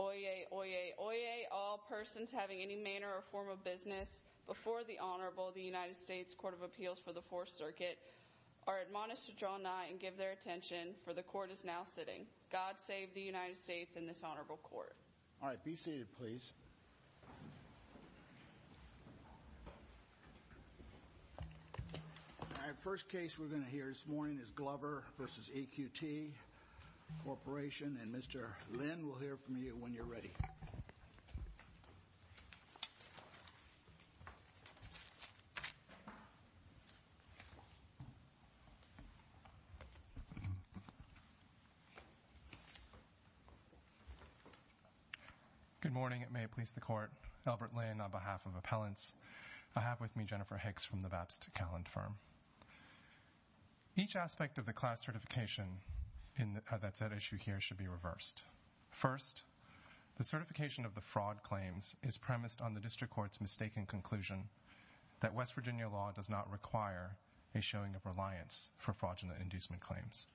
Oyez, oyez, oyez, all persons having any manner or form of business before the Honorable, the United States Court of Appeals for the Fourth Circuit, are admonished to draw nigh and give their attention, for the Court is now sitting. God save the United States and this Honorable Court. All right, be seated, please. All right, first case we're going to hear this morning is Glover v. EQT Corporation, and Mr. Lynn will hear from you when you're ready. Good morning, it may please the Court. Albert Lynn on behalf of Appellants. I have with me Jennifer Hicks from the Bapst Calland Firm. Each aspect of the class certification that's at issue here should be reversed. First, the certification of the fraud claims is premised on the District Court's mistaken conclusion that West Virginia law does not require a showing of reliance for fraudulent inducement claims.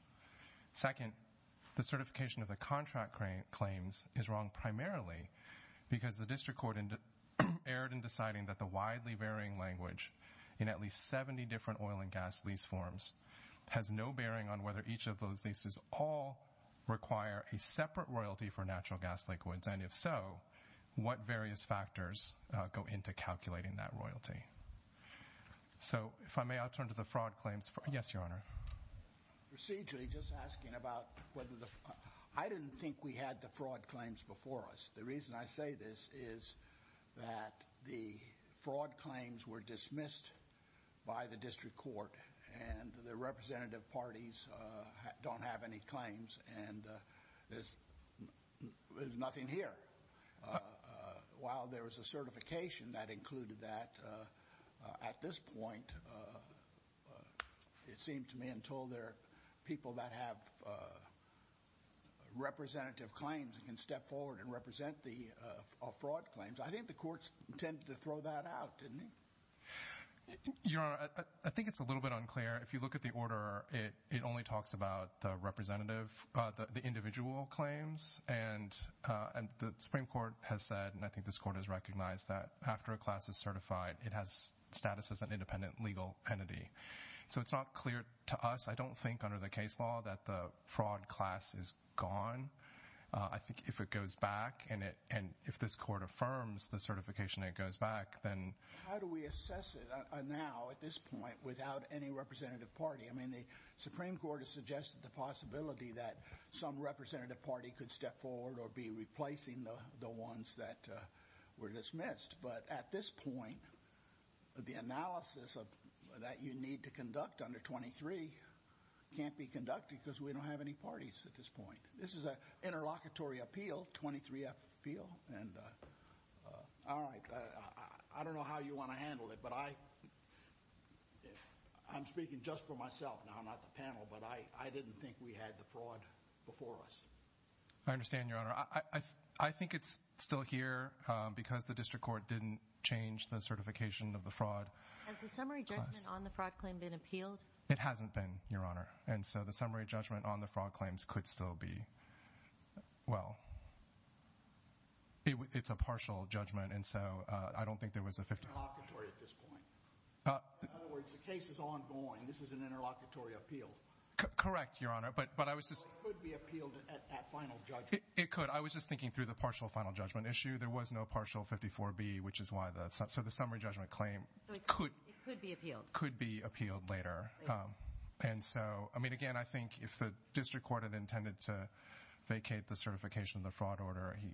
Second, the certification of the contract claims is wrong primarily because the District Court erred in deciding that the widely varying language in at least 70 different oil and gas lease forms has no bearing on whether each of those leases all require a separate royalty for natural gas liquids, and if so, what various factors go into calculating that royalty. So, if I may, I'll turn to the fraud claims. Yes, Your Honor. Procedurally, just asking about whether the... I didn't think we had the fraud claims before us. The reason I say this is that the fraud claims were dismissed by the District Court, and the representative parties don't have any claims, and there's nothing here. While there was a certification that included that, at this point, it seemed to me until there are people that have representative claims and can step forward and represent the fraud claims. I think the courts intended to throw that out, didn't they? Your Honor, I think it's a little bit unclear. If you look at the order, it only talks about the representative, the individual claims, and the Supreme Court has said, and I think this Court has recognized that after a class is certified, it has status as an independent legal entity. So, it's not clear to us. I don't think under the case law that the fraud class is gone. I think if it goes back, and if this Court affirms the certification that it goes back, then... How do we assess it now, at this point, without any representative party? I mean, the Supreme Court has suggested the possibility that some representative party could step forward or be replacing the ones that were dismissed. But at this point, the analysis that you need to conduct under 23 can't be conducted because we don't have any parties at this point. This is an interlocutory appeal, 23-F appeal, and all right. I don't know how you want to handle it, but I'm speaking just for myself now, not the panel, but I didn't think we had the fraud before us. I understand, Your Honor. I think it's still here because the district court didn't change the certification of the fraud. Has the summary judgment on the fraud claim been appealed? It hasn't been, Your Honor. And so the summary judgment on the fraud claims could still be... Well, it's a partial judgment, and so I don't think there was a 50... Interlocutory at this point. In other words, the case is ongoing. This is an interlocutory appeal. Correct, Your Honor, but I was just... It could be appealed at final judgment. It could. I was just thinking through the partial final judgment issue. There was no partial 54B, which is why... So the summary judgment claim could... It could be appealed. Could be appealed later. And so, I mean, again, I think if the district court had intended to vacate the certification of the fraud order, he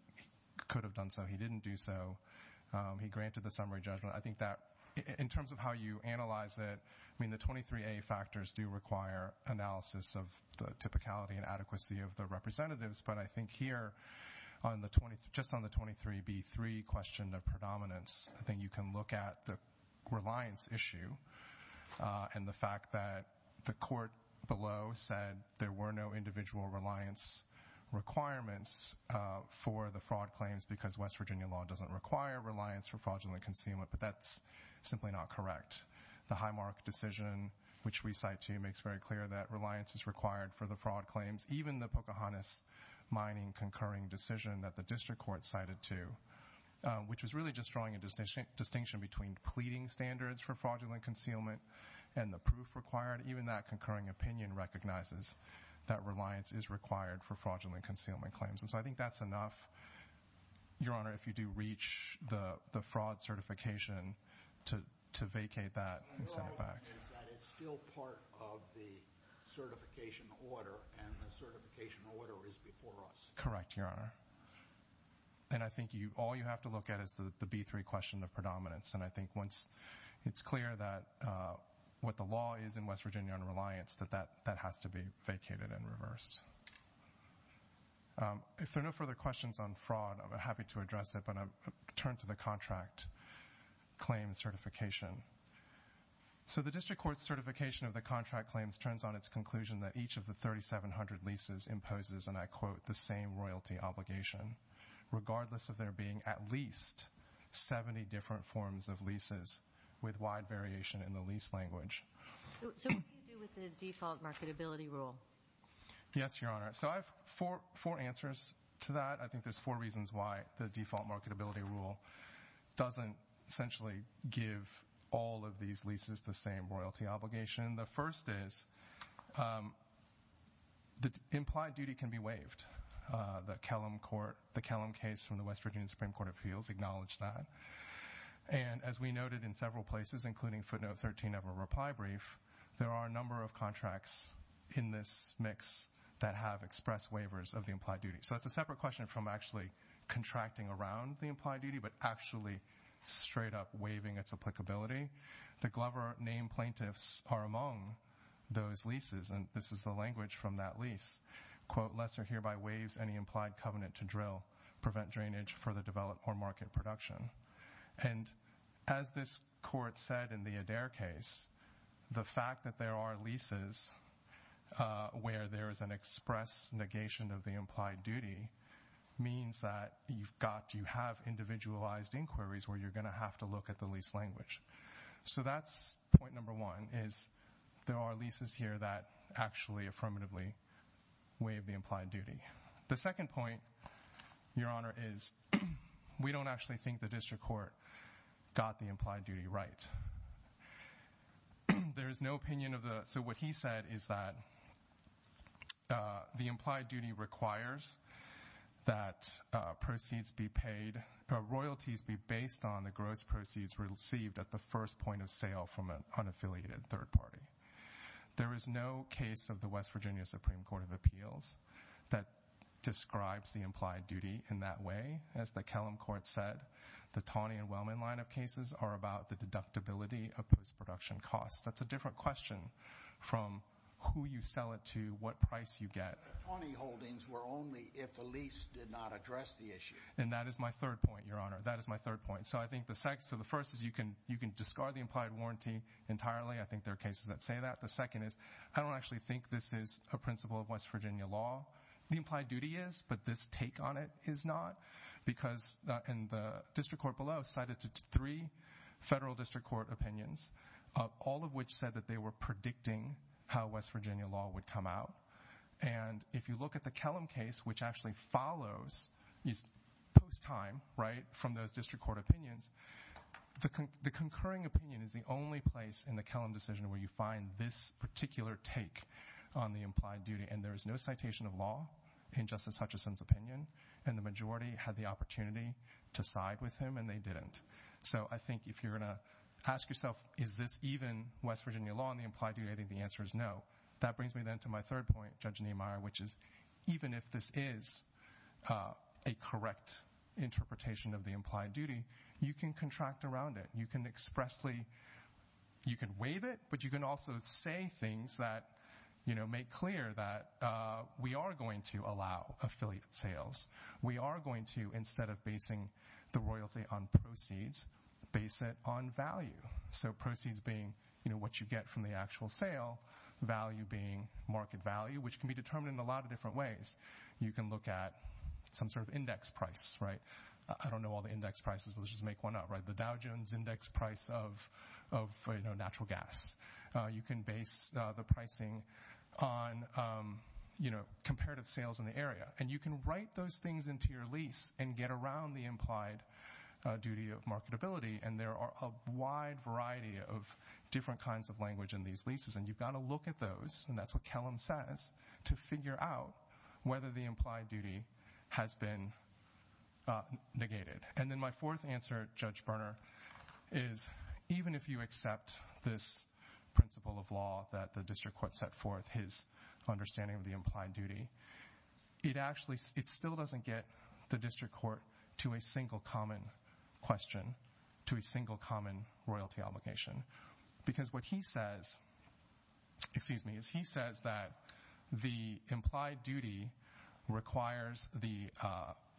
could have done so. He didn't do so. He granted the summary judgment. I think that in terms of how you analyze it, I mean, the 23A factors do require analysis of the typicality and adequacy of the representatives. But I think here, just on the 23B3 question of predominance, I think you can look at the reliance issue and the fact that the court below said there were no individual reliance requirements for the fraud claims because West Virginia law doesn't require reliance for fraudulent concealment. But that's simply not correct. The Highmark decision, which we cite to you, makes very clear that reliance is required for the fraud claims. Even the Pocahontas Mining concurring decision that the district court cited to, which was really just drawing a distinction between pleading standards for fraudulent concealment and the proof required, even that concurring opinion recognizes that reliance is required for fraudulent concealment claims. And so I think that's enough, Your Honor, if you do reach the fraud certification to vacate that and send it back. My problem is that it's still part of the certification order, and the certification order is before us. Correct, Your Honor. And I think all you have to look at is the B3 question of predominance. And I think once it's clear what the law is in West Virginia on reliance, that that has to be vacated and reversed. If there are no further questions on fraud, I'm happy to address it, but I'll turn to the contract claim certification. So the district court's certification of the contract claims turns on its conclusion that each of the 3,700 leases imposes, and I quote, the same royalty obligation, regardless of there being at least 70 different forms of leases with wide variation in the lease language. So what do you do with the default marketability rule? Yes, Your Honor. So I have four answers to that. I think there's four reasons why the default marketability rule doesn't essentially give all of these leases the same royalty obligation. The first is that implied duty can be waived. The Kellum case from the West Virginia Supreme Court of Appeals acknowledged that. And as we noted in several places, including footnote 13 of our reply brief, there are a number of contracts in this mix that have expressed waivers of the implied duty. So it's a separate question from actually contracting around the implied duty, but actually straight up waiving its applicability. The Glover name plaintiffs are among those leases, and this is the language from that lease. Quote, lesser hereby waives any implied covenant to drill, prevent drainage, further develop, or market production. And as this court said in the Adair case, the fact that there are leases where there is an express negation of the implied duty means that you've got, you have individualized inquiries where you're going to have to look at the lease language. So that's point number one, is there are leases here that actually affirmatively waive the implied duty. The second point, your honor, is we don't actually think the district court got the implied duty right. There is no opinion of the, so what he said is that the implied duty requires that proceeds be paid, royalties be based on the gross proceeds received at the first point of sale from an unaffiliated third party. There is no case of the West Virginia Supreme Court of Appeals that describes the implied duty in that way. As the Kellam Court said, the Taney and Wellman line of cases are about the deductibility of post-production costs. That's a different question from who you sell it to, what price you get. The Taney holdings were only if the lease did not address the issue. And that is my third point, your honor. That is my third point. So I think the first is you can discard the implied warranty entirely. I think there are cases that say that. The second is I don't actually think this is a principle of West Virginia law. The implied duty is, but this take on it is not. Because in the district court below cited three federal district court opinions, all of which said that they were predicting how West Virginia law would come out. And if you look at the Kellam case, which actually follows post time, right, from those district court opinions, the concurring opinion is the only place in the Kellam decision where you find this particular take on the implied duty. And there is no citation of law in Justice Hutchison's opinion. And the majority had the opportunity to side with him, and they didn't. So I think if you're going to ask yourself, is this even West Virginia law on the implied duty, I think the answer is no. That brings me then to my third point, Judge Niemeyer, which is even if this is a correct interpretation of the implied duty, you can contract around it. You can expressly, you can waive it, but you can also say things that make clear that we are going to allow affiliate sales. We are going to, instead of basing the royalty on proceeds, base it on value. So proceeds being what you get from the actual sale, value being market value, which can be determined in a lot of different ways. You can look at some sort of index price, right? I don't know all the index prices, but let's just make one up, right? The Dow Jones index price of natural gas. You can base the pricing on comparative sales in the area. And you can write those things into your lease and get around the implied duty of marketability. And there are a wide variety of different kinds of language in these leases. And you've got to look at those, and that's what Kellum says, to figure out whether the implied duty has been negated. And then my fourth answer, Judge Berner, is even if you accept this principle of law that the district court set forth, his understanding of the implied duty, it still doesn't get the district court to a single common question, to a single common royalty obligation, because what he says, excuse me, is he says that the implied duty requires the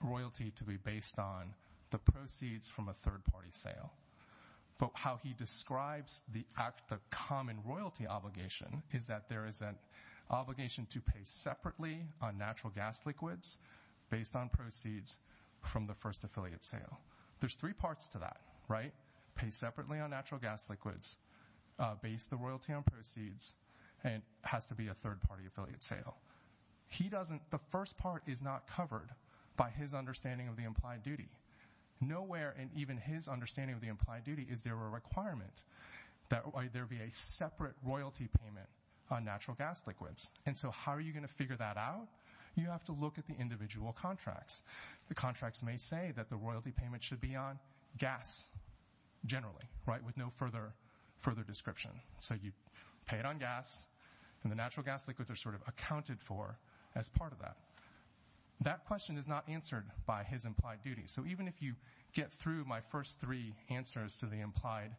royalty to be based on the proceeds from a third party sale. How he describes the act of common royalty obligation is that there is an obligation to pay separately on natural gas liquids based on proceeds from the first affiliate sale. There's three parts to that, right? Pay separately on natural gas liquids, base the royalty on proceeds, and it has to be a third party affiliate sale. He doesn't, the first part is not covered by his understanding of the implied duty. Nowhere in even his understanding of the implied duty is there a requirement that there be a separate royalty payment on natural gas liquids. And so how are you going to figure that out? You have to look at the individual contracts. The contracts may say that the royalty payment should be on gas generally, right, with no further description. So you pay it on gas, and the natural gas liquids are sort of accounted for as part of that. That question is not answered by his implied duty. So even if you get through my first three answers to the implied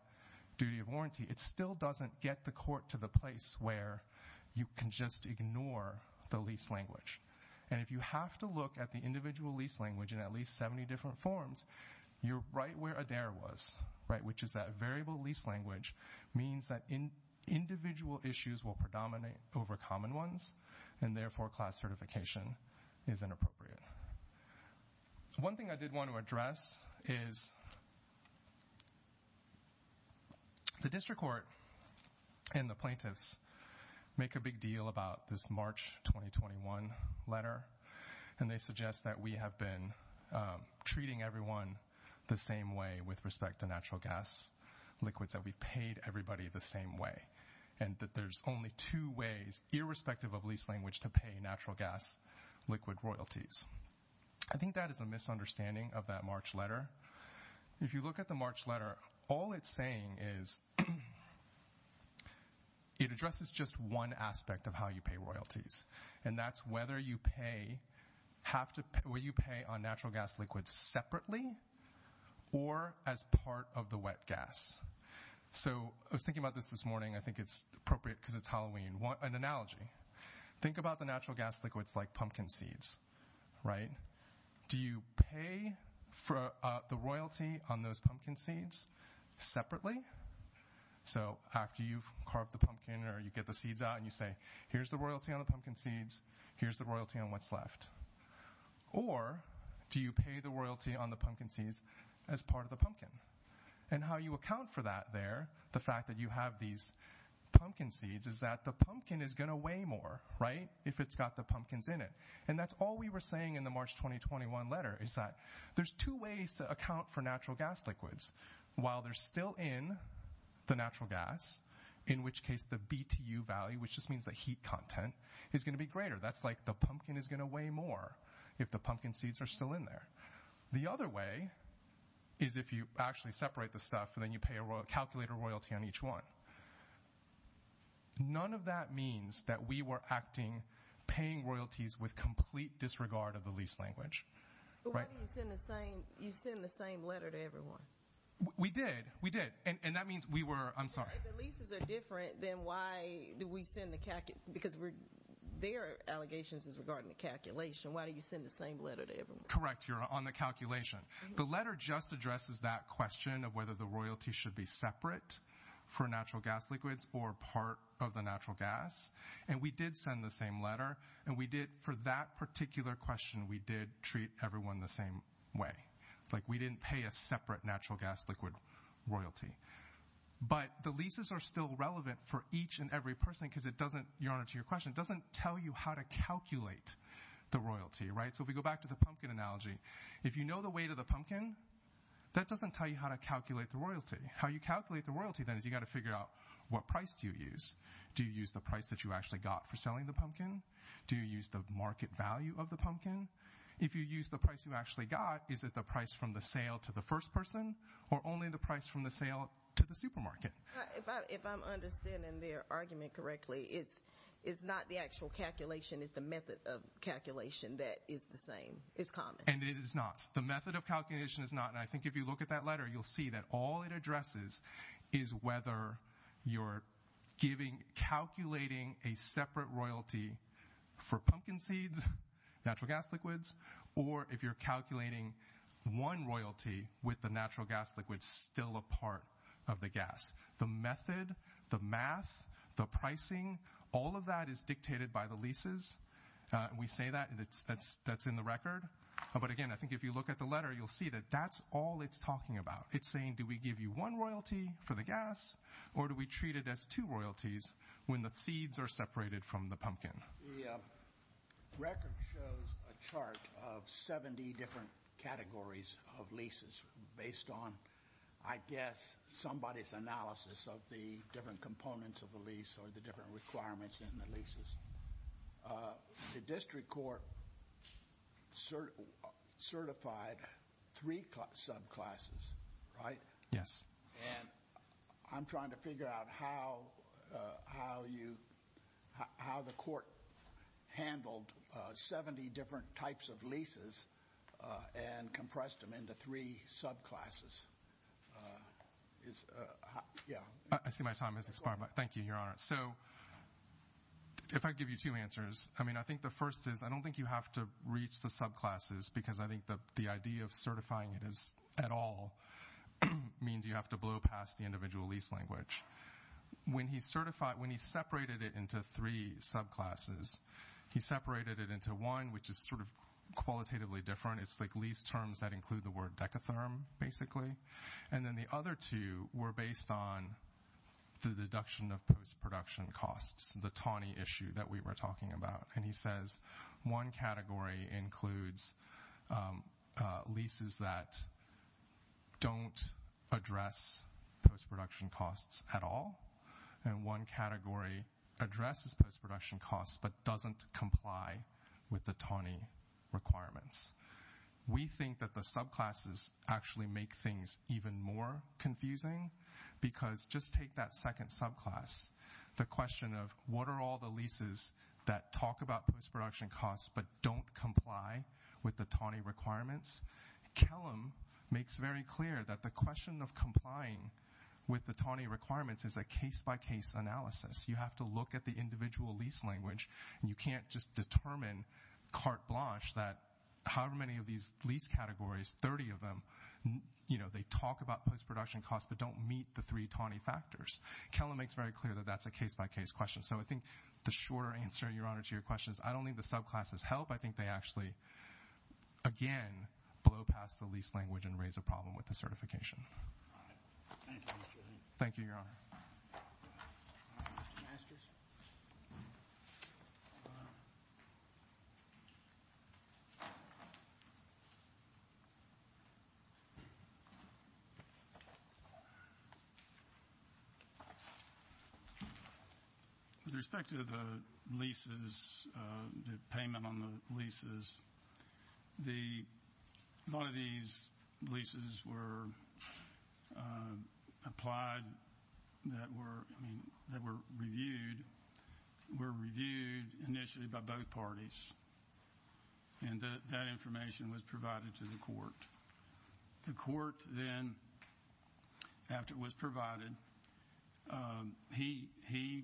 duty of warranty, it still doesn't get the court to the place where you can just ignore the lease language. And if you have to look at the individual lease language in at least 70 different forms, you're right where Adair was, right, which is that variable lease language means that individual issues will predominate over common ones, and therefore class certification is inappropriate. One thing I did want to address is the district court and the plaintiffs make a big deal about this March 2021 letter. And they suggest that we have been treating everyone the same way with respect to natural gas liquids, that we've paid everybody the same way, and that there's only two ways, irrespective of lease language, to pay natural gas liquid royalties. I think that is a misunderstanding of that March letter. If you look at the March letter, all it's saying is it addresses just one aspect of how you pay royalties, and that's whether you pay on natural gas liquids separately or as part of the wet gas. So I was thinking about this this morning. I think it's appropriate because it's Halloween. An analogy. Think about the natural gas liquids like pumpkin seeds, right? Do you pay for the royalty on those pumpkin seeds separately? So after you've carved the pumpkin or you get the seeds out and you say here's the royalty on the pumpkin seeds, here's the royalty on what's left. Or do you pay the royalty on the pumpkin seeds as part of the pumpkin? And how you account for that there, the fact that you have these pumpkin seeds, is that the pumpkin is going to weigh more, right, if it's got the pumpkins in it. And that's all we were saying in the March 2021 letter is that there's two ways to account for natural gas liquids. While they're still in the natural gas, in which case the BTU value, which just means the heat content, is going to be greater. That's like the pumpkin is going to weigh more if the pumpkin seeds are still in there. The other way is if you actually separate the stuff and then you calculate a royalty on each one. None of that means that we were acting paying royalties with complete disregard of the lease language. But why do you send the same letter to everyone? We did. We did. And that means we were, I'm sorry. If the leases are different, then why do we send the, because their allegations is regarding the calculation. Why do you send the same letter to everyone? Correct. You're on the calculation. The letter just addresses that question of whether the royalty should be separate for natural gas liquids or part of the natural gas. And we did send the same letter. And we did, for that particular question, we did treat everyone the same way. Like we didn't pay a separate natural gas liquid royalty. But the leases are still relevant for each and every person because it doesn't, Your Honor, to your question, it doesn't tell you how to calculate the royalty. So if we go back to the pumpkin analogy, if you know the weight of the pumpkin, that doesn't tell you how to calculate the royalty. How you calculate the royalty, then, is you've got to figure out what price do you use. Do you use the price that you actually got for selling the pumpkin? Do you use the market value of the pumpkin? If you use the price you actually got, is it the price from the sale to the first person or only the price from the sale to the supermarket? If I'm understanding their argument correctly, it's not the actual calculation. It's the method of calculation that is the same. It's common. And it is not. The method of calculation is not, and I think if you look at that letter, you'll see that all it addresses is whether you're calculating a separate royalty for pumpkin seeds, natural gas liquids, or if you're calculating one royalty with the natural gas liquid still a part of the gas. The method, the math, the pricing, all of that is dictated by the leases. We say that, and that's in the record. But, again, I think if you look at the letter, you'll see that that's all it's talking about. It's saying do we give you one royalty for the gas or do we treat it as two royalties when the seeds are separated from the pumpkin? The record shows a chart of 70 different categories of leases based on, I guess, somebody's analysis of the different components of the lease or the different requirements in the leases. The district court certified three subclasses, right? Yes. And I'm trying to figure out how the court handled 70 different types of leases and compressed them into three subclasses. I see my time has expired. Thank you, Your Honor. So, if I give you two answers, I mean, I think the first is I don't think you have to reach the subclasses, because I think the idea of certifying it at all means you have to blow past the individual lease language. When he separated it into three subclasses, he separated it into one, which is sort of qualitatively different. It's like lease terms that include the word decatherm, basically. And then the other two were based on the deduction of post-production costs, the TANI issue that we were talking about. And he says one category includes leases that don't address post-production costs at all, and one category addresses post-production costs but doesn't comply with the TANI requirements. We think that the subclasses actually make things even more confusing, because just take that second subclass, the question of what are all the leases that talk about post-production costs but don't comply with the TANI requirements? Kellam makes very clear that the question of complying with the TANI requirements is a case-by-case analysis. You have to look at the individual lease language, and you can't just determine carte blanche that however many of these lease categories, 30 of them, they talk about post-production costs but don't meet the three TANI factors. Kellam makes very clear that that's a case-by-case question. So I think the shorter answer, Your Honor, to your question is I don't think the subclasses help. I think they actually, again, blow past the lease language and raise a problem with the certification. Thank you, Your Honor. Mr. Masters? With respect to the leases, the payment on the leases, a lot of these leases were applied that were reviewed initially by both parties, and that information was provided to the court. The court then, after it was provided, he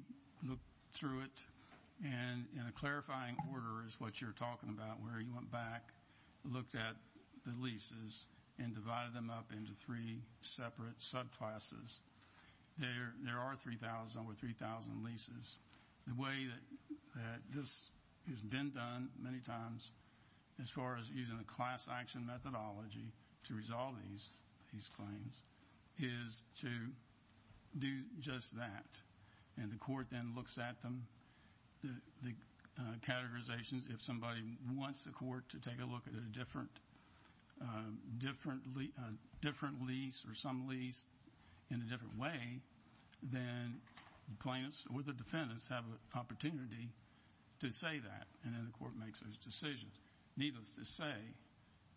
looked through it, and in a clarifying order is what you're talking about, where he went back, looked at the leases, and divided them up into three separate subclasses. There are 3,000 or 3,000 leases. The way that this has been done many times as far as using a class-action methodology to resolve these claims is to do just that. And the court then looks at them, the categorizations. If somebody wants the court to take a look at a different lease or some lease in a different way, then the plaintiffs or the defendants have an opportunity to say that, and then the court makes those decisions. Needless to say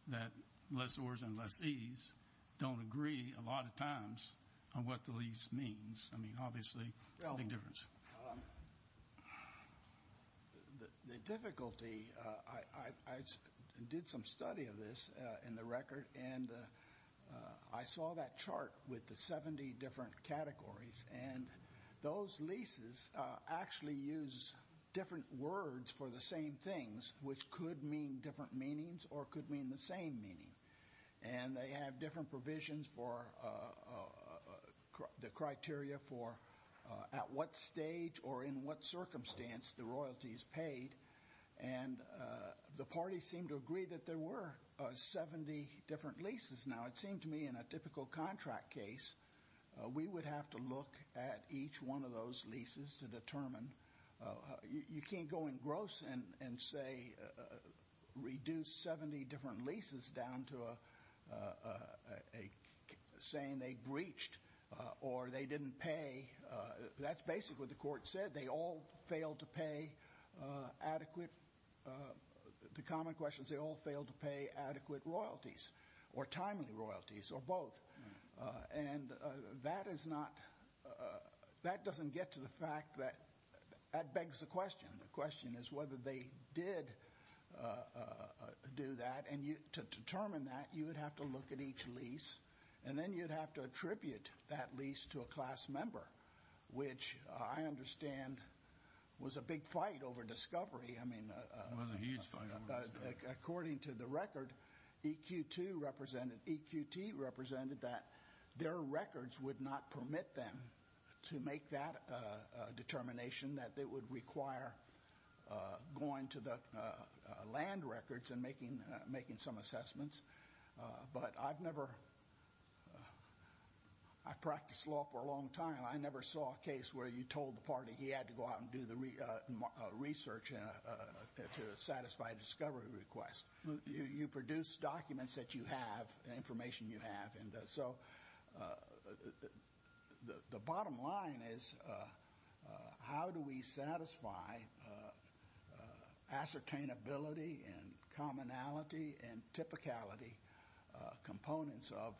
that lessors and lessees don't agree a lot of times on what the lease means. I mean, obviously, it's a big difference. The difficulty, I did some study of this in the record, and I saw that chart with the 70 different categories, and those leases actually use different words for the same things, which could mean different meanings or could mean the same meaning. And they have different provisions for the criteria for at what stage or in what circumstance the royalty is paid. And the parties seem to agree that there were 70 different leases. Now, it seemed to me in a typical contract case, we would have to look at each one of those leases to determine. You can't go in gross and say reduce 70 different leases down to saying they breached or they didn't pay. That's basically what the court said. They all failed to pay adequate, the common question is they all failed to pay adequate royalties or timely royalties or both. And that doesn't get to the fact that that begs the question. The question is whether they did do that. And to determine that, you would have to look at each lease, and then you'd have to attribute that lease to a class member, which I understand was a big fight over discovery. It was a huge fight over discovery. According to the record, EQT represented that their records would not permit them to make that determination, that it would require going to the land records and making some assessments. But I've never, I practiced law for a long time. I never saw a case where you told the party he had to go out and do the research to satisfy a discovery request. You produce documents that you have, information you have. And so the bottom line is how do we satisfy ascertainability and commonality and typicality components of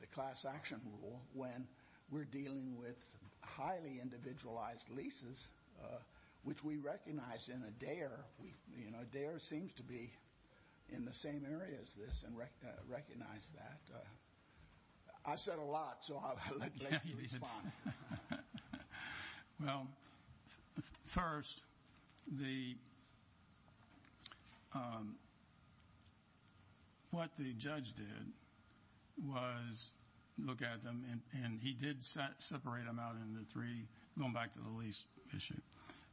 the class action rule when we're dealing with highly individualized leases, which we recognize in Adair. Adair seems to be in the same area as this and recognize that. I said a lot, so I'll let Blake respond. Well, first, what the judge did was look at them, and he did separate them out into three, going back to the lease issue.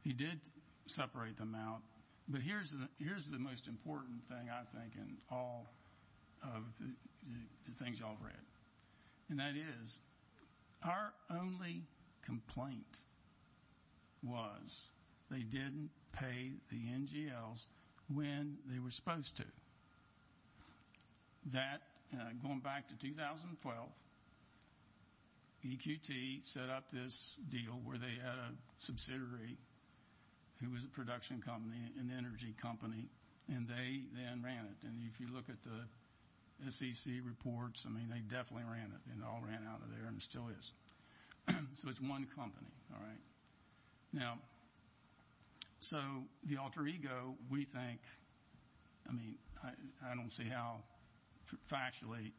He did separate them out, but here's the most important thing, I think, in all of the things you all read. And that is our only complaint was they didn't pay the NGLs when they were supposed to. That, going back to 2012, EQT set up this deal where they had a subsidiary who was a production company, an energy company, and they then ran it. And if you look at the SEC reports, I mean, they definitely ran it, and it all ran out of there, and it still is. So it's one company, all right? Now, so the alter ego, we think, I mean, I don't see how factually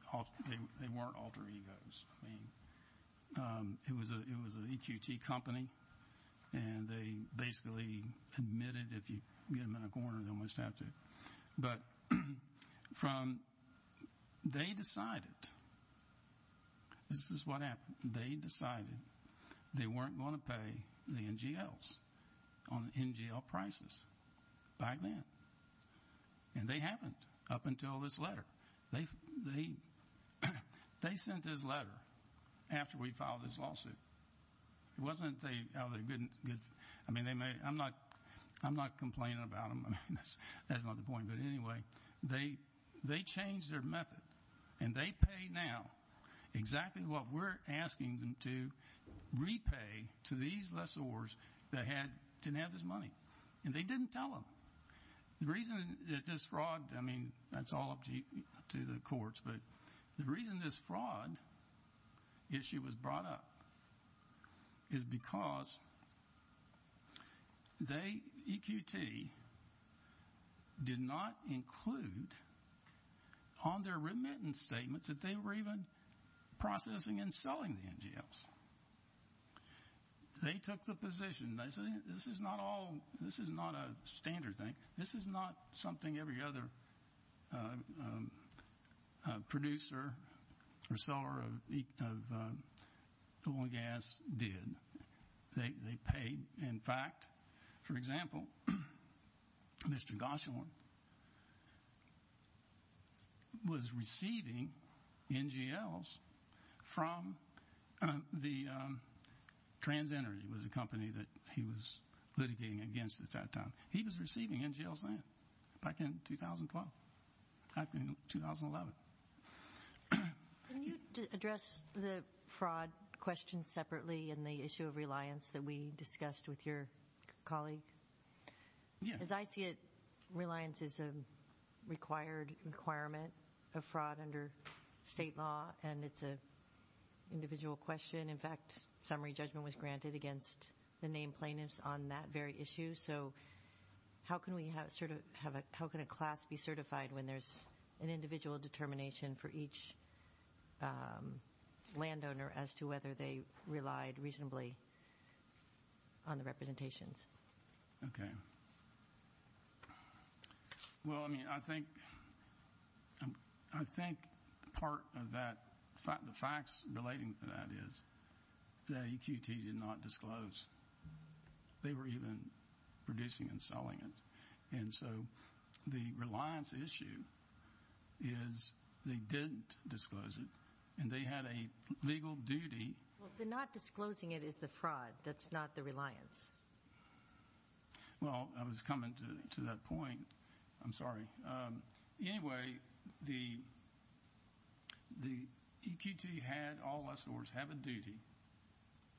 they weren't alter egos. I mean, it was an EQT company, and they basically admitted if you get them in a corner, they almost have to. But from they decided, this is what happened. They decided they weren't going to pay the NGLs on NGL prices back then. And they haven't up until this letter. They sent this letter after we filed this lawsuit. It wasn't a good, I mean, I'm not complaining about them. I mean, that's not the point, but anyway, they changed their method, and they pay now exactly what we're asking them to repay to these lessors that didn't have this money. And they didn't tell them. The reason that this fraud, I mean, that's all up to the courts, but the reason this fraud issue was brought up is because they, EQT, did not include on their remittance statements that they were even processing and selling the NGLs. They took the position, this is not a standard thing. This is not something every other producer or seller of oil and gas did. They paid. In fact, for example, Mr. Goshorn was receiving NGLs from the TransEnergy. It was a company that he was litigating against at that time. He was receiving NGLs then, back in 2012, back in 2011. Can you address the fraud question separately in the issue of reliance that we discussed with your colleague? Yes. As I see it, reliance is a required requirement of fraud under state law, and it's an individual question. In fact, summary judgment was granted against the named plaintiffs on that very issue. So how can a class be certified when there's an individual determination for each landowner as to whether they relied reasonably on the representations? Okay. Well, I mean, I think part of the facts relating to that is that EQT did not disclose. They were even producing and selling it. And so the reliance issue is they didn't disclose it, and they had a legal duty. Well, the not disclosing it is the fraud. That's not the reliance. Well, I was coming to that point. I'm sorry. Anyway, the EQT had, in other words, had a duty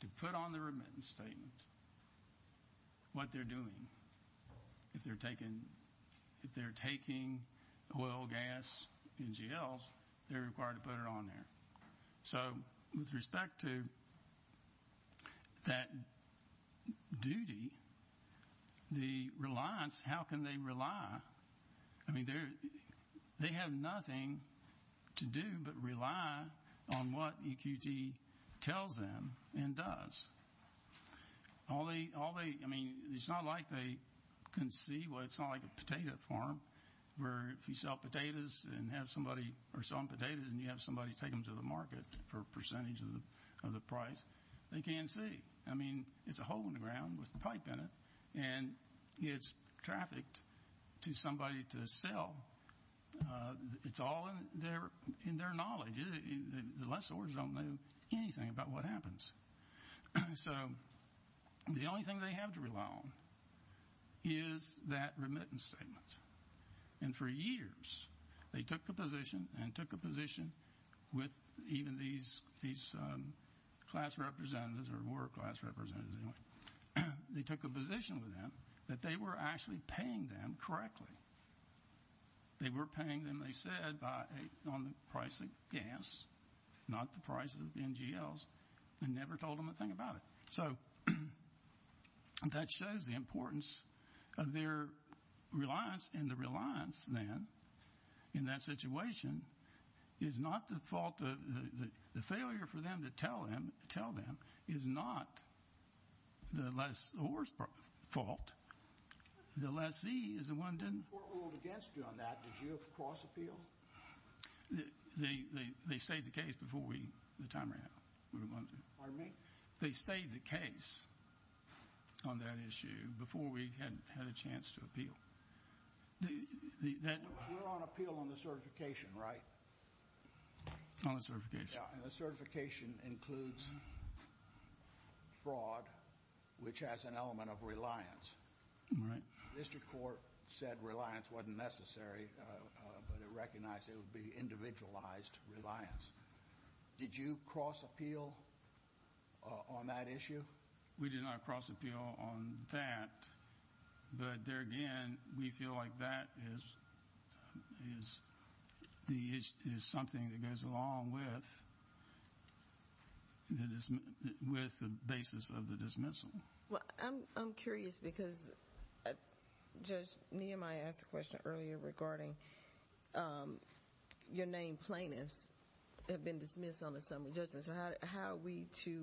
to put on the remittance statement what they're doing. If they're taking oil, gas, NGLs, they're required to put it on there. So with respect to that duty, the reliance, how can they rely? I mean, they have nothing to do but rely on what EQT tells them and does. I mean, it's not like they can see. Well, it's not like a potato farm where if you sell potatoes and have somebody or sell them potatoes and you have somebody take them to the market for a percentage of the price, they can't see. I mean, it's a hole in the ground with a pipe in it, and it's trafficked to somebody to sell. It's all in their knowledge. The lessors don't know anything about what happens. So the only thing they have to rely on is that remittance statement. And for years they took a position and took a position with even these class representatives or were class representatives anyway, they took a position with them that they were actually paying them correctly. They were paying them, they said, on the price of gas, not the price of NGLs, and never told them a thing about it. So that shows the importance of their reliance. And the reliance then in that situation is not the fault of the failure for them to tell them is not the lessors' fault. The lessee is the one that didn't. We're all against you on that. Did you cross-appeal? They stayed the case before we, the time ran out. Pardon me? They stayed the case on that issue before we had a chance to appeal. We're on appeal on the certification, right? On the certification. And the certification includes fraud, which has an element of reliance. Right. The district court said reliance wasn't necessary, but it recognized it would be individualized reliance. Did you cross-appeal on that issue? We did not cross-appeal on that. But, there again, we feel like that is something that goes along with the basis of the dismissal. Well, I'm curious because, Judge Neal, I asked a question earlier regarding your named plaintiffs have been dismissed on assembly judgments. How are we to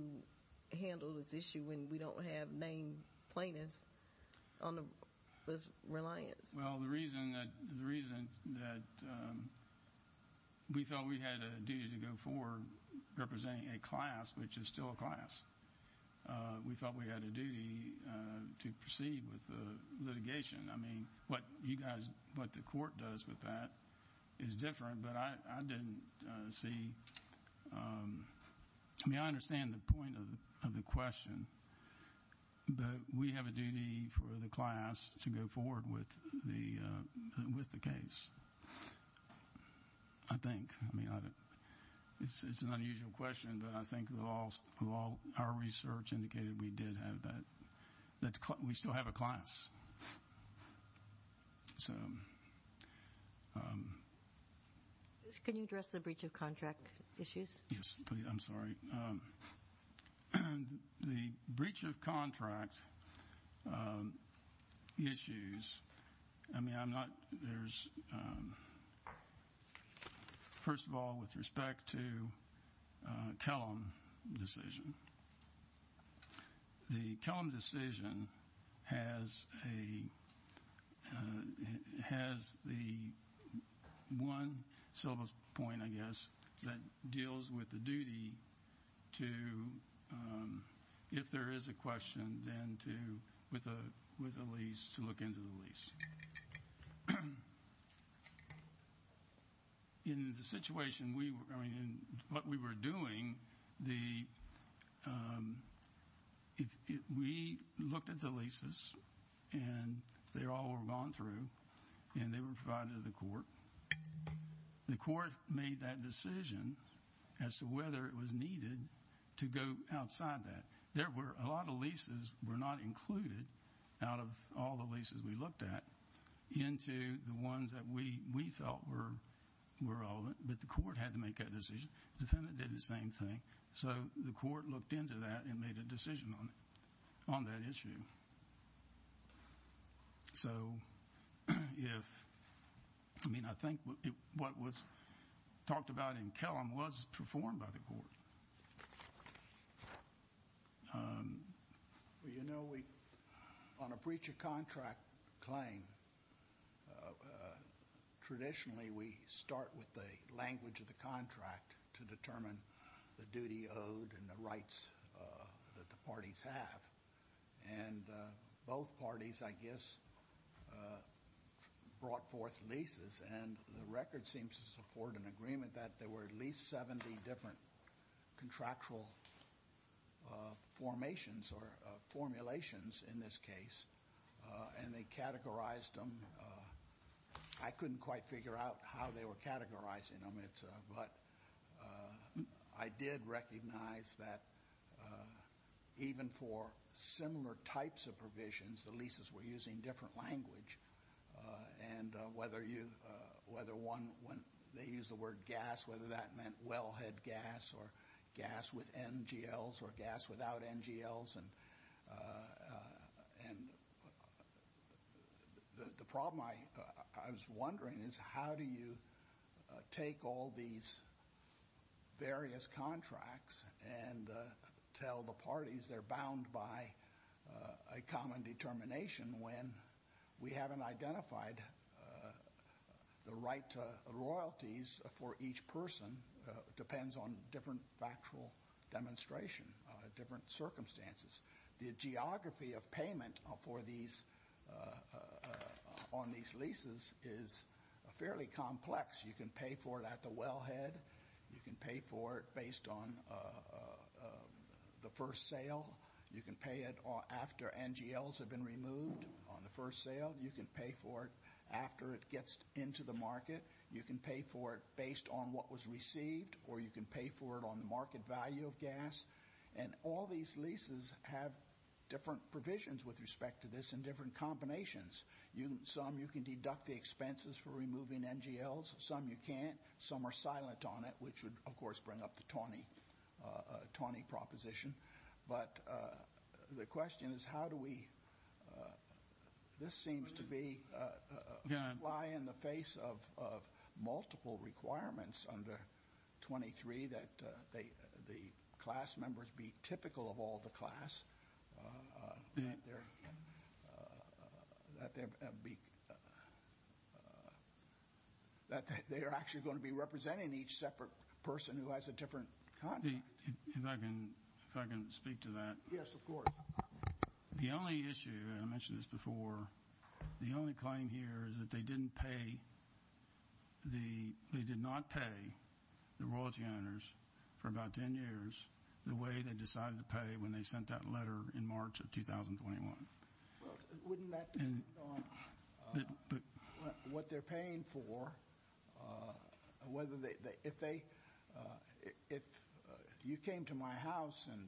handle this issue when we don't have named plaintiffs on this reliance? Well, the reason that we felt we had a duty to go forward representing a class, which is still a class, we felt we had a duty to proceed with the litigation. I mean, what the court does with that is different, but I didn't see. I mean, I understand the point of the question, but we have a duty for the class to go forward with the case, I think. I mean, it's an unusual question, but I think our research indicated we did have that. We still have a class. Can you address the breach of contract issues? Yes, please. I'm sorry. The breach of contract issues, I mean, first of all, with respect to Kellum's decision, the Kellum decision has the one point, I guess, that deals with the duty to, if there is a question, then to, with a lease, to look into the lease. In the situation, I mean, what we were doing, we looked at the leases, and they all were gone through, and they were provided to the court. The court made that decision as to whether it was needed to go outside that. There were a lot of leases were not included out of all the leases we looked at into the ones that we felt were all, but the court had to make that decision. The defendant did the same thing. So the court looked into that and made a decision on that issue. So if, I mean, I think what was talked about in Kellum was performed by the court. Well, you know, on a breach of contract claim, traditionally we start with the language of the contract to determine the duty owed and the rights that the parties have. And both parties, I guess, brought forth leases, and the record seems to support an agreement that there were at least 70 different contractual formations or formulations in this case, and they categorized them. I couldn't quite figure out how they were categorizing them, but I did recognize that even for similar types of provisions, the leases were using different language, and whether one, they used the word gas, whether that meant wellhead gas or gas with NGLs or gas without NGLs. And the problem I was wondering is how do you take all these various contracts and tell the parties they're bound by a common determination when we haven't identified the right royalties for each person? It depends on different factual demonstration, different circumstances. The geography of payment on these leases is fairly complex. You can pay for it at the wellhead. You can pay for it based on the first sale. You can pay it after NGLs have been removed on the first sale. You can pay for it after it gets into the market. You can pay for it based on what was received, or you can pay for it on the market value of gas. And all these leases have different provisions with respect to this and different combinations. Some you can deduct the expenses for removing NGLs. Some you can't. Some are silent on it, which would, of course, bring up the tawny proposition. But the question is how do we ‑‑ this seems to be a lie in the face of multiple requirements under 23 that the class members be typical of all the class, that they're actually going to be representing each separate person who has a different contract. If I can speak to that. Yes, of course. The only issue, and I mentioned this before, the only claim here is that they didn't pay the ‑‑ they did not pay the royalty owners for about 10 years the way they decided to pay when they sent that letter in March of 2021. Wouldn't that depend on what they're paying for? Whether they ‑‑ if they ‑‑ if you came to my house and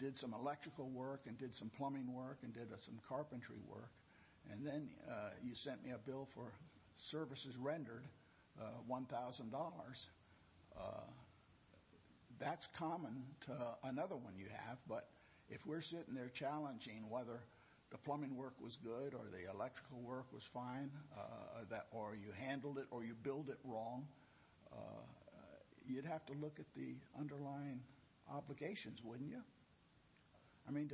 did some electrical work and did some plumbing work and did some carpentry work and then you sent me a bill for services rendered, $1,000, that's common to another one you have. But if we're sitting there challenging whether the plumbing work was good or the electrical work was fine or you handled it or you billed it wrong, you'd have to look at the underlying obligations, wouldn't you? I mean,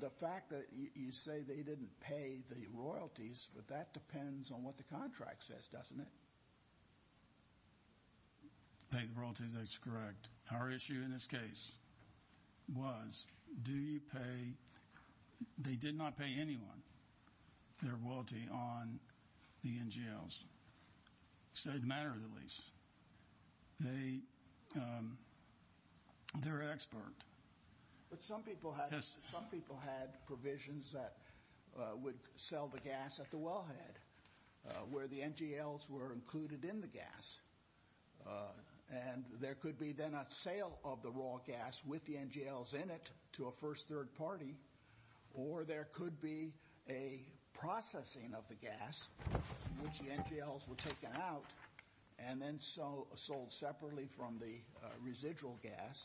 the fact that you say they didn't pay the royalties, that depends on what the contract says, doesn't it? To pay the royalties, that's correct. Our issue in this case was do you pay ‑‑ they did not pay anyone their royalty on the NGLs. It's a matter of the lease. They're expert. But some people had provisions that would sell the gas at the wellhead where the NGLs were included in the gas. And there could be then a sale of the raw gas with the NGLs in it to a first third party or there could be a processing of the gas in which the NGLs were taken out and then sold separately from the residual gas.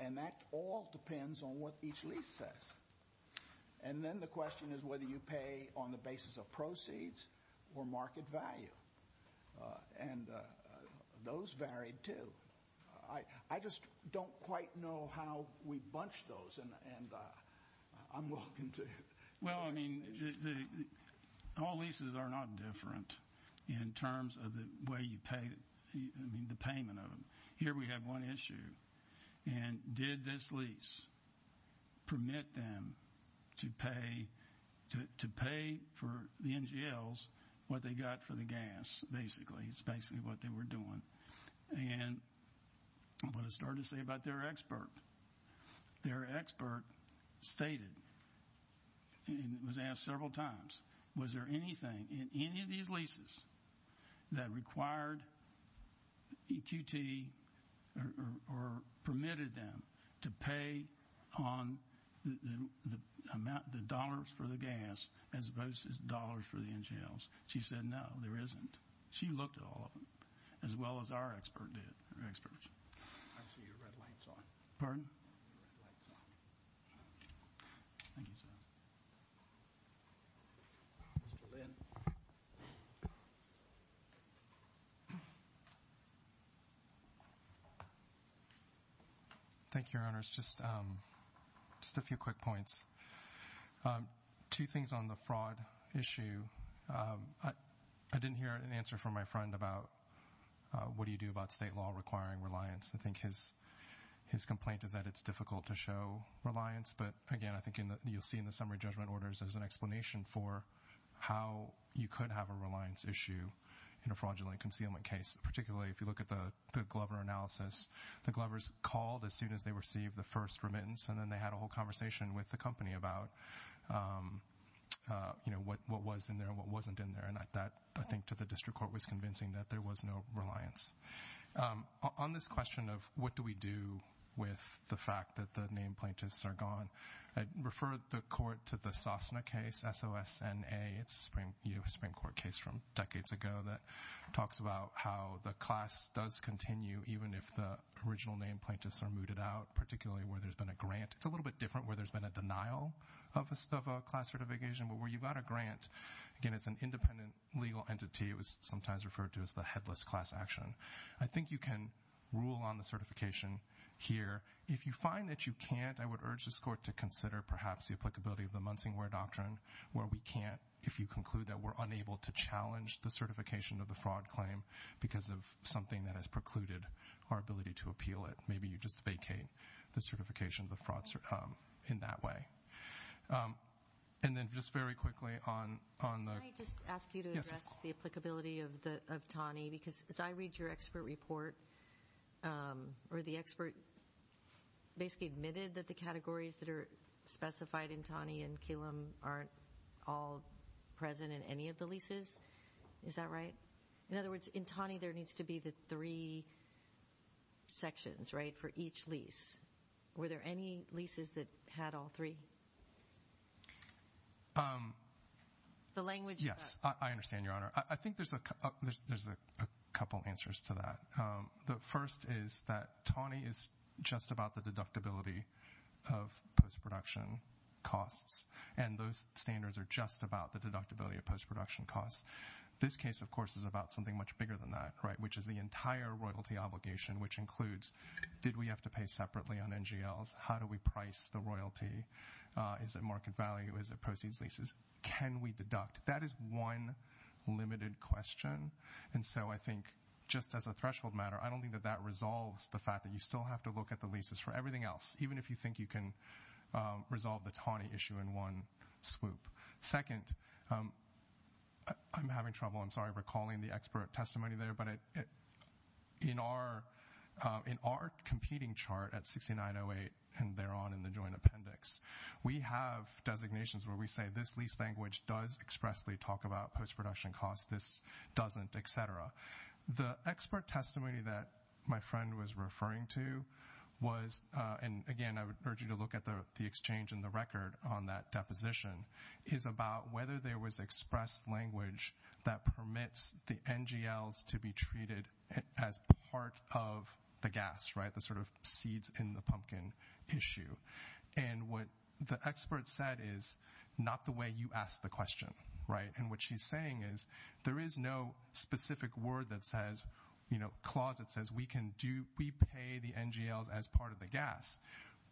And that all depends on what each lease says. And then the question is whether you pay on the basis of proceeds or market value. And those vary, too. I just don't quite know how we bunch those, and I'm looking to ‑‑ Well, I mean, all leases are not different in terms of the way you pay, I mean, the payment of them. Here we have one issue. And did this lease permit them to pay for the NGLs what they got for the gas, basically? It's basically what they were doing. And what it started to say about their expert. Their expert stated, and it was asked several times, was there anything in any of these leases that required EQT or permitted them to pay on the dollars for the gas as opposed to dollars for the NGLs? She said no, there isn't. She looked at all of them as well as our expert did, our experts. I see your red light's on. Pardon? Your red light's on. Thank you, sir. Mr. Lin. Thank you, Your Honors. Just a few quick points. Two things on the fraud issue. I didn't hear an answer from my friend about what do you do about state law requiring reliance. I think his complaint is that it's difficult to show reliance. But, again, I think you'll see in the summary judgment orders, there's an explanation for how you could have a reliance issue in a fraudulent concealment case, particularly if you look at the Glover analysis. The Glovers called as soon as they received the first remittance, and then they had a whole conversation with the company about what was in there and what wasn't in there. And that, I think, to the district court was convincing that there was no reliance. On this question of what do we do with the fact that the named plaintiffs are gone, I'd refer the court to the SOSNA case, S-O-S-N-A. It's a Supreme Court case from decades ago that talks about how the class does continue, even if the original named plaintiffs are mooted out, particularly where there's been a grant. It's a little bit different where there's been a denial of a class certification, but where you've got a grant, again, it's an independent legal entity. It was sometimes referred to as the headless class action. I think you can rule on the certification here. If you find that you can't, I would urge this court to consider, perhaps, the applicability of the Munsingware Doctrine where we can't, if you conclude that we're unable to challenge the certification of the fraud claim because of something that has precluded our ability to appeal it. Maybe you just vacate the certification of the fraud in that way. And then just very quickly on the- Can I just ask you to address the applicability of TANI? Because as I read your expert report, or the expert basically admitted that the categories that are specified in TANI and Killam aren't all present in any of the leases. Is that right? In other words, in TANI there needs to be the three sections, right, for each lease. Were there any leases that had all three? The language- Yes, I understand, Your Honor. I think there's a couple answers to that. The first is that TANI is just about the deductibility of post-production costs, and those standards are just about the deductibility of post-production costs. This case, of course, is about something much bigger than that, right, which is the entire royalty obligation, which includes did we have to pay separately on NGLs? How do we price the royalty? Is it market value? Is it proceeds, leases? Can we deduct? That is one limited question. And so I think just as a threshold matter, I don't think that that resolves the fact that you still have to look at the leases for everything else, even if you think you can resolve the TANI issue in one swoop. Second, I'm having trouble, I'm sorry, recalling the expert testimony there, but in our competing chart at 6908 and thereon in the joint appendix, we have designations where we say this lease language does expressly talk about post-production costs, this doesn't, et cetera. The expert testimony that my friend was referring to was, and, again, I would urge you to look at the exchange in the record on that deposition, is about whether there was expressed language that permits the NGLs to be treated as part of the gas, right, the sort of seeds in the pumpkin issue. And what the expert said is not the way you asked the question, right, and what she's saying is there is no specific word that says, you know, do we pay the NGLs as part of the gas?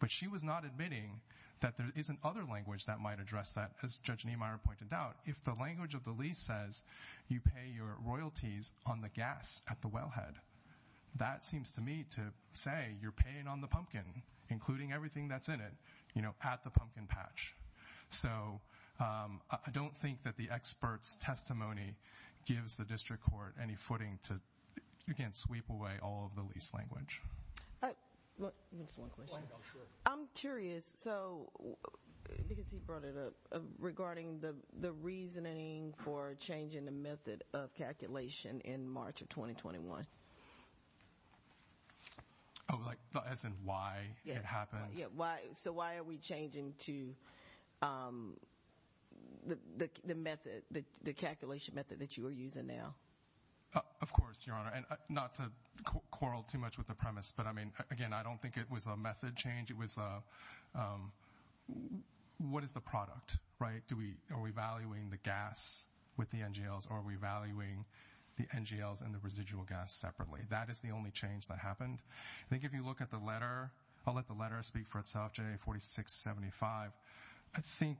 But she was not admitting that there is another language that might address that, as Judge Niemeyer pointed out. If the language of the lease says you pay your royalties on the gas at the wellhead, that seems to me to say you're paying on the pumpkin, including everything that's in it, you know, at the pumpkin patch. So I don't think that the expert's testimony gives the district court any footing to, you can't sweep away all of the lease language. Just one question. Sure. I'm curious, so, because he brought it up, regarding the reasoning for changing the method of calculation in March of 2021. Oh, like, as in why it happened? Yeah, so why are we changing to the method, the calculation method that you are using now? Of course, Your Honor, and not to quarrel too much with the premise, but I mean, again, I don't think it was a method change. It was a, what is the product, right? Are we valuing the gas with the NGLs, or are we valuing the NGLs and the residual gas separately? That is the only change that happened. I think if you look at the letter, I'll let the letter speak for itself, J4675. I think,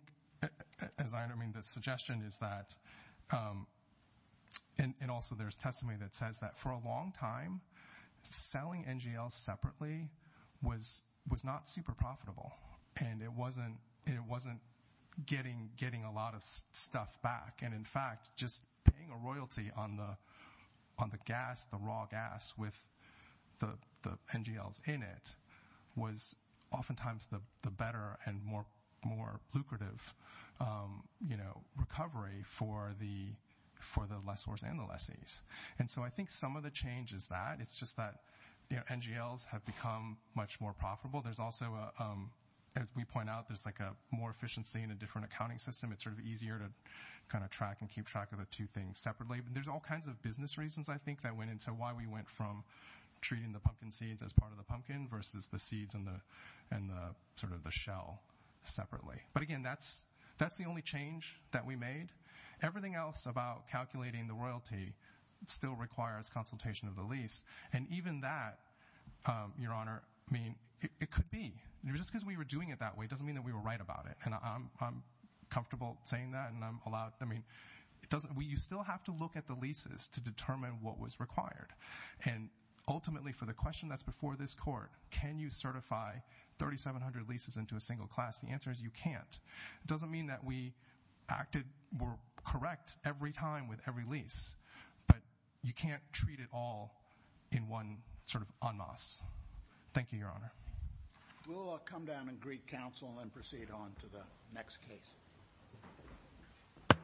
as I understand, the suggestion is that, and also there's testimony that says that for a long time, selling NGLs separately was not super profitable, and it wasn't getting a lot of stuff back. And, in fact, just paying a royalty on the gas, the raw gas with the NGLs in it, was oftentimes the better and more lucrative recovery for the lessors and the lessees. And so I think some of the change is that. It's just that NGLs have become much more profitable. There's also, as we point out, there's like a more efficiency in a different accounting system. It's sort of easier to kind of track and keep track of the two things separately. But there's all kinds of business reasons, I think, that went into why we went from treating the pumpkin seeds as part of the pumpkin versus the seeds and sort of the shell separately. But, again, that's the only change that we made. Everything else about calculating the royalty still requires consultation of the lease. And even that, Your Honor, I mean, it could be. Just because we were doing it that way doesn't mean that we were right about it. And I'm comfortable saying that. You still have to look at the leases to determine what was required. And ultimately, for the question that's before this Court, can you certify 3,700 leases into a single class? The answer is you can't. It doesn't mean that we were correct every time with every lease. But you can't treat it all in one sort of en masse. Thank you, Your Honor. We'll come down and greet counsel and proceed on to the next case.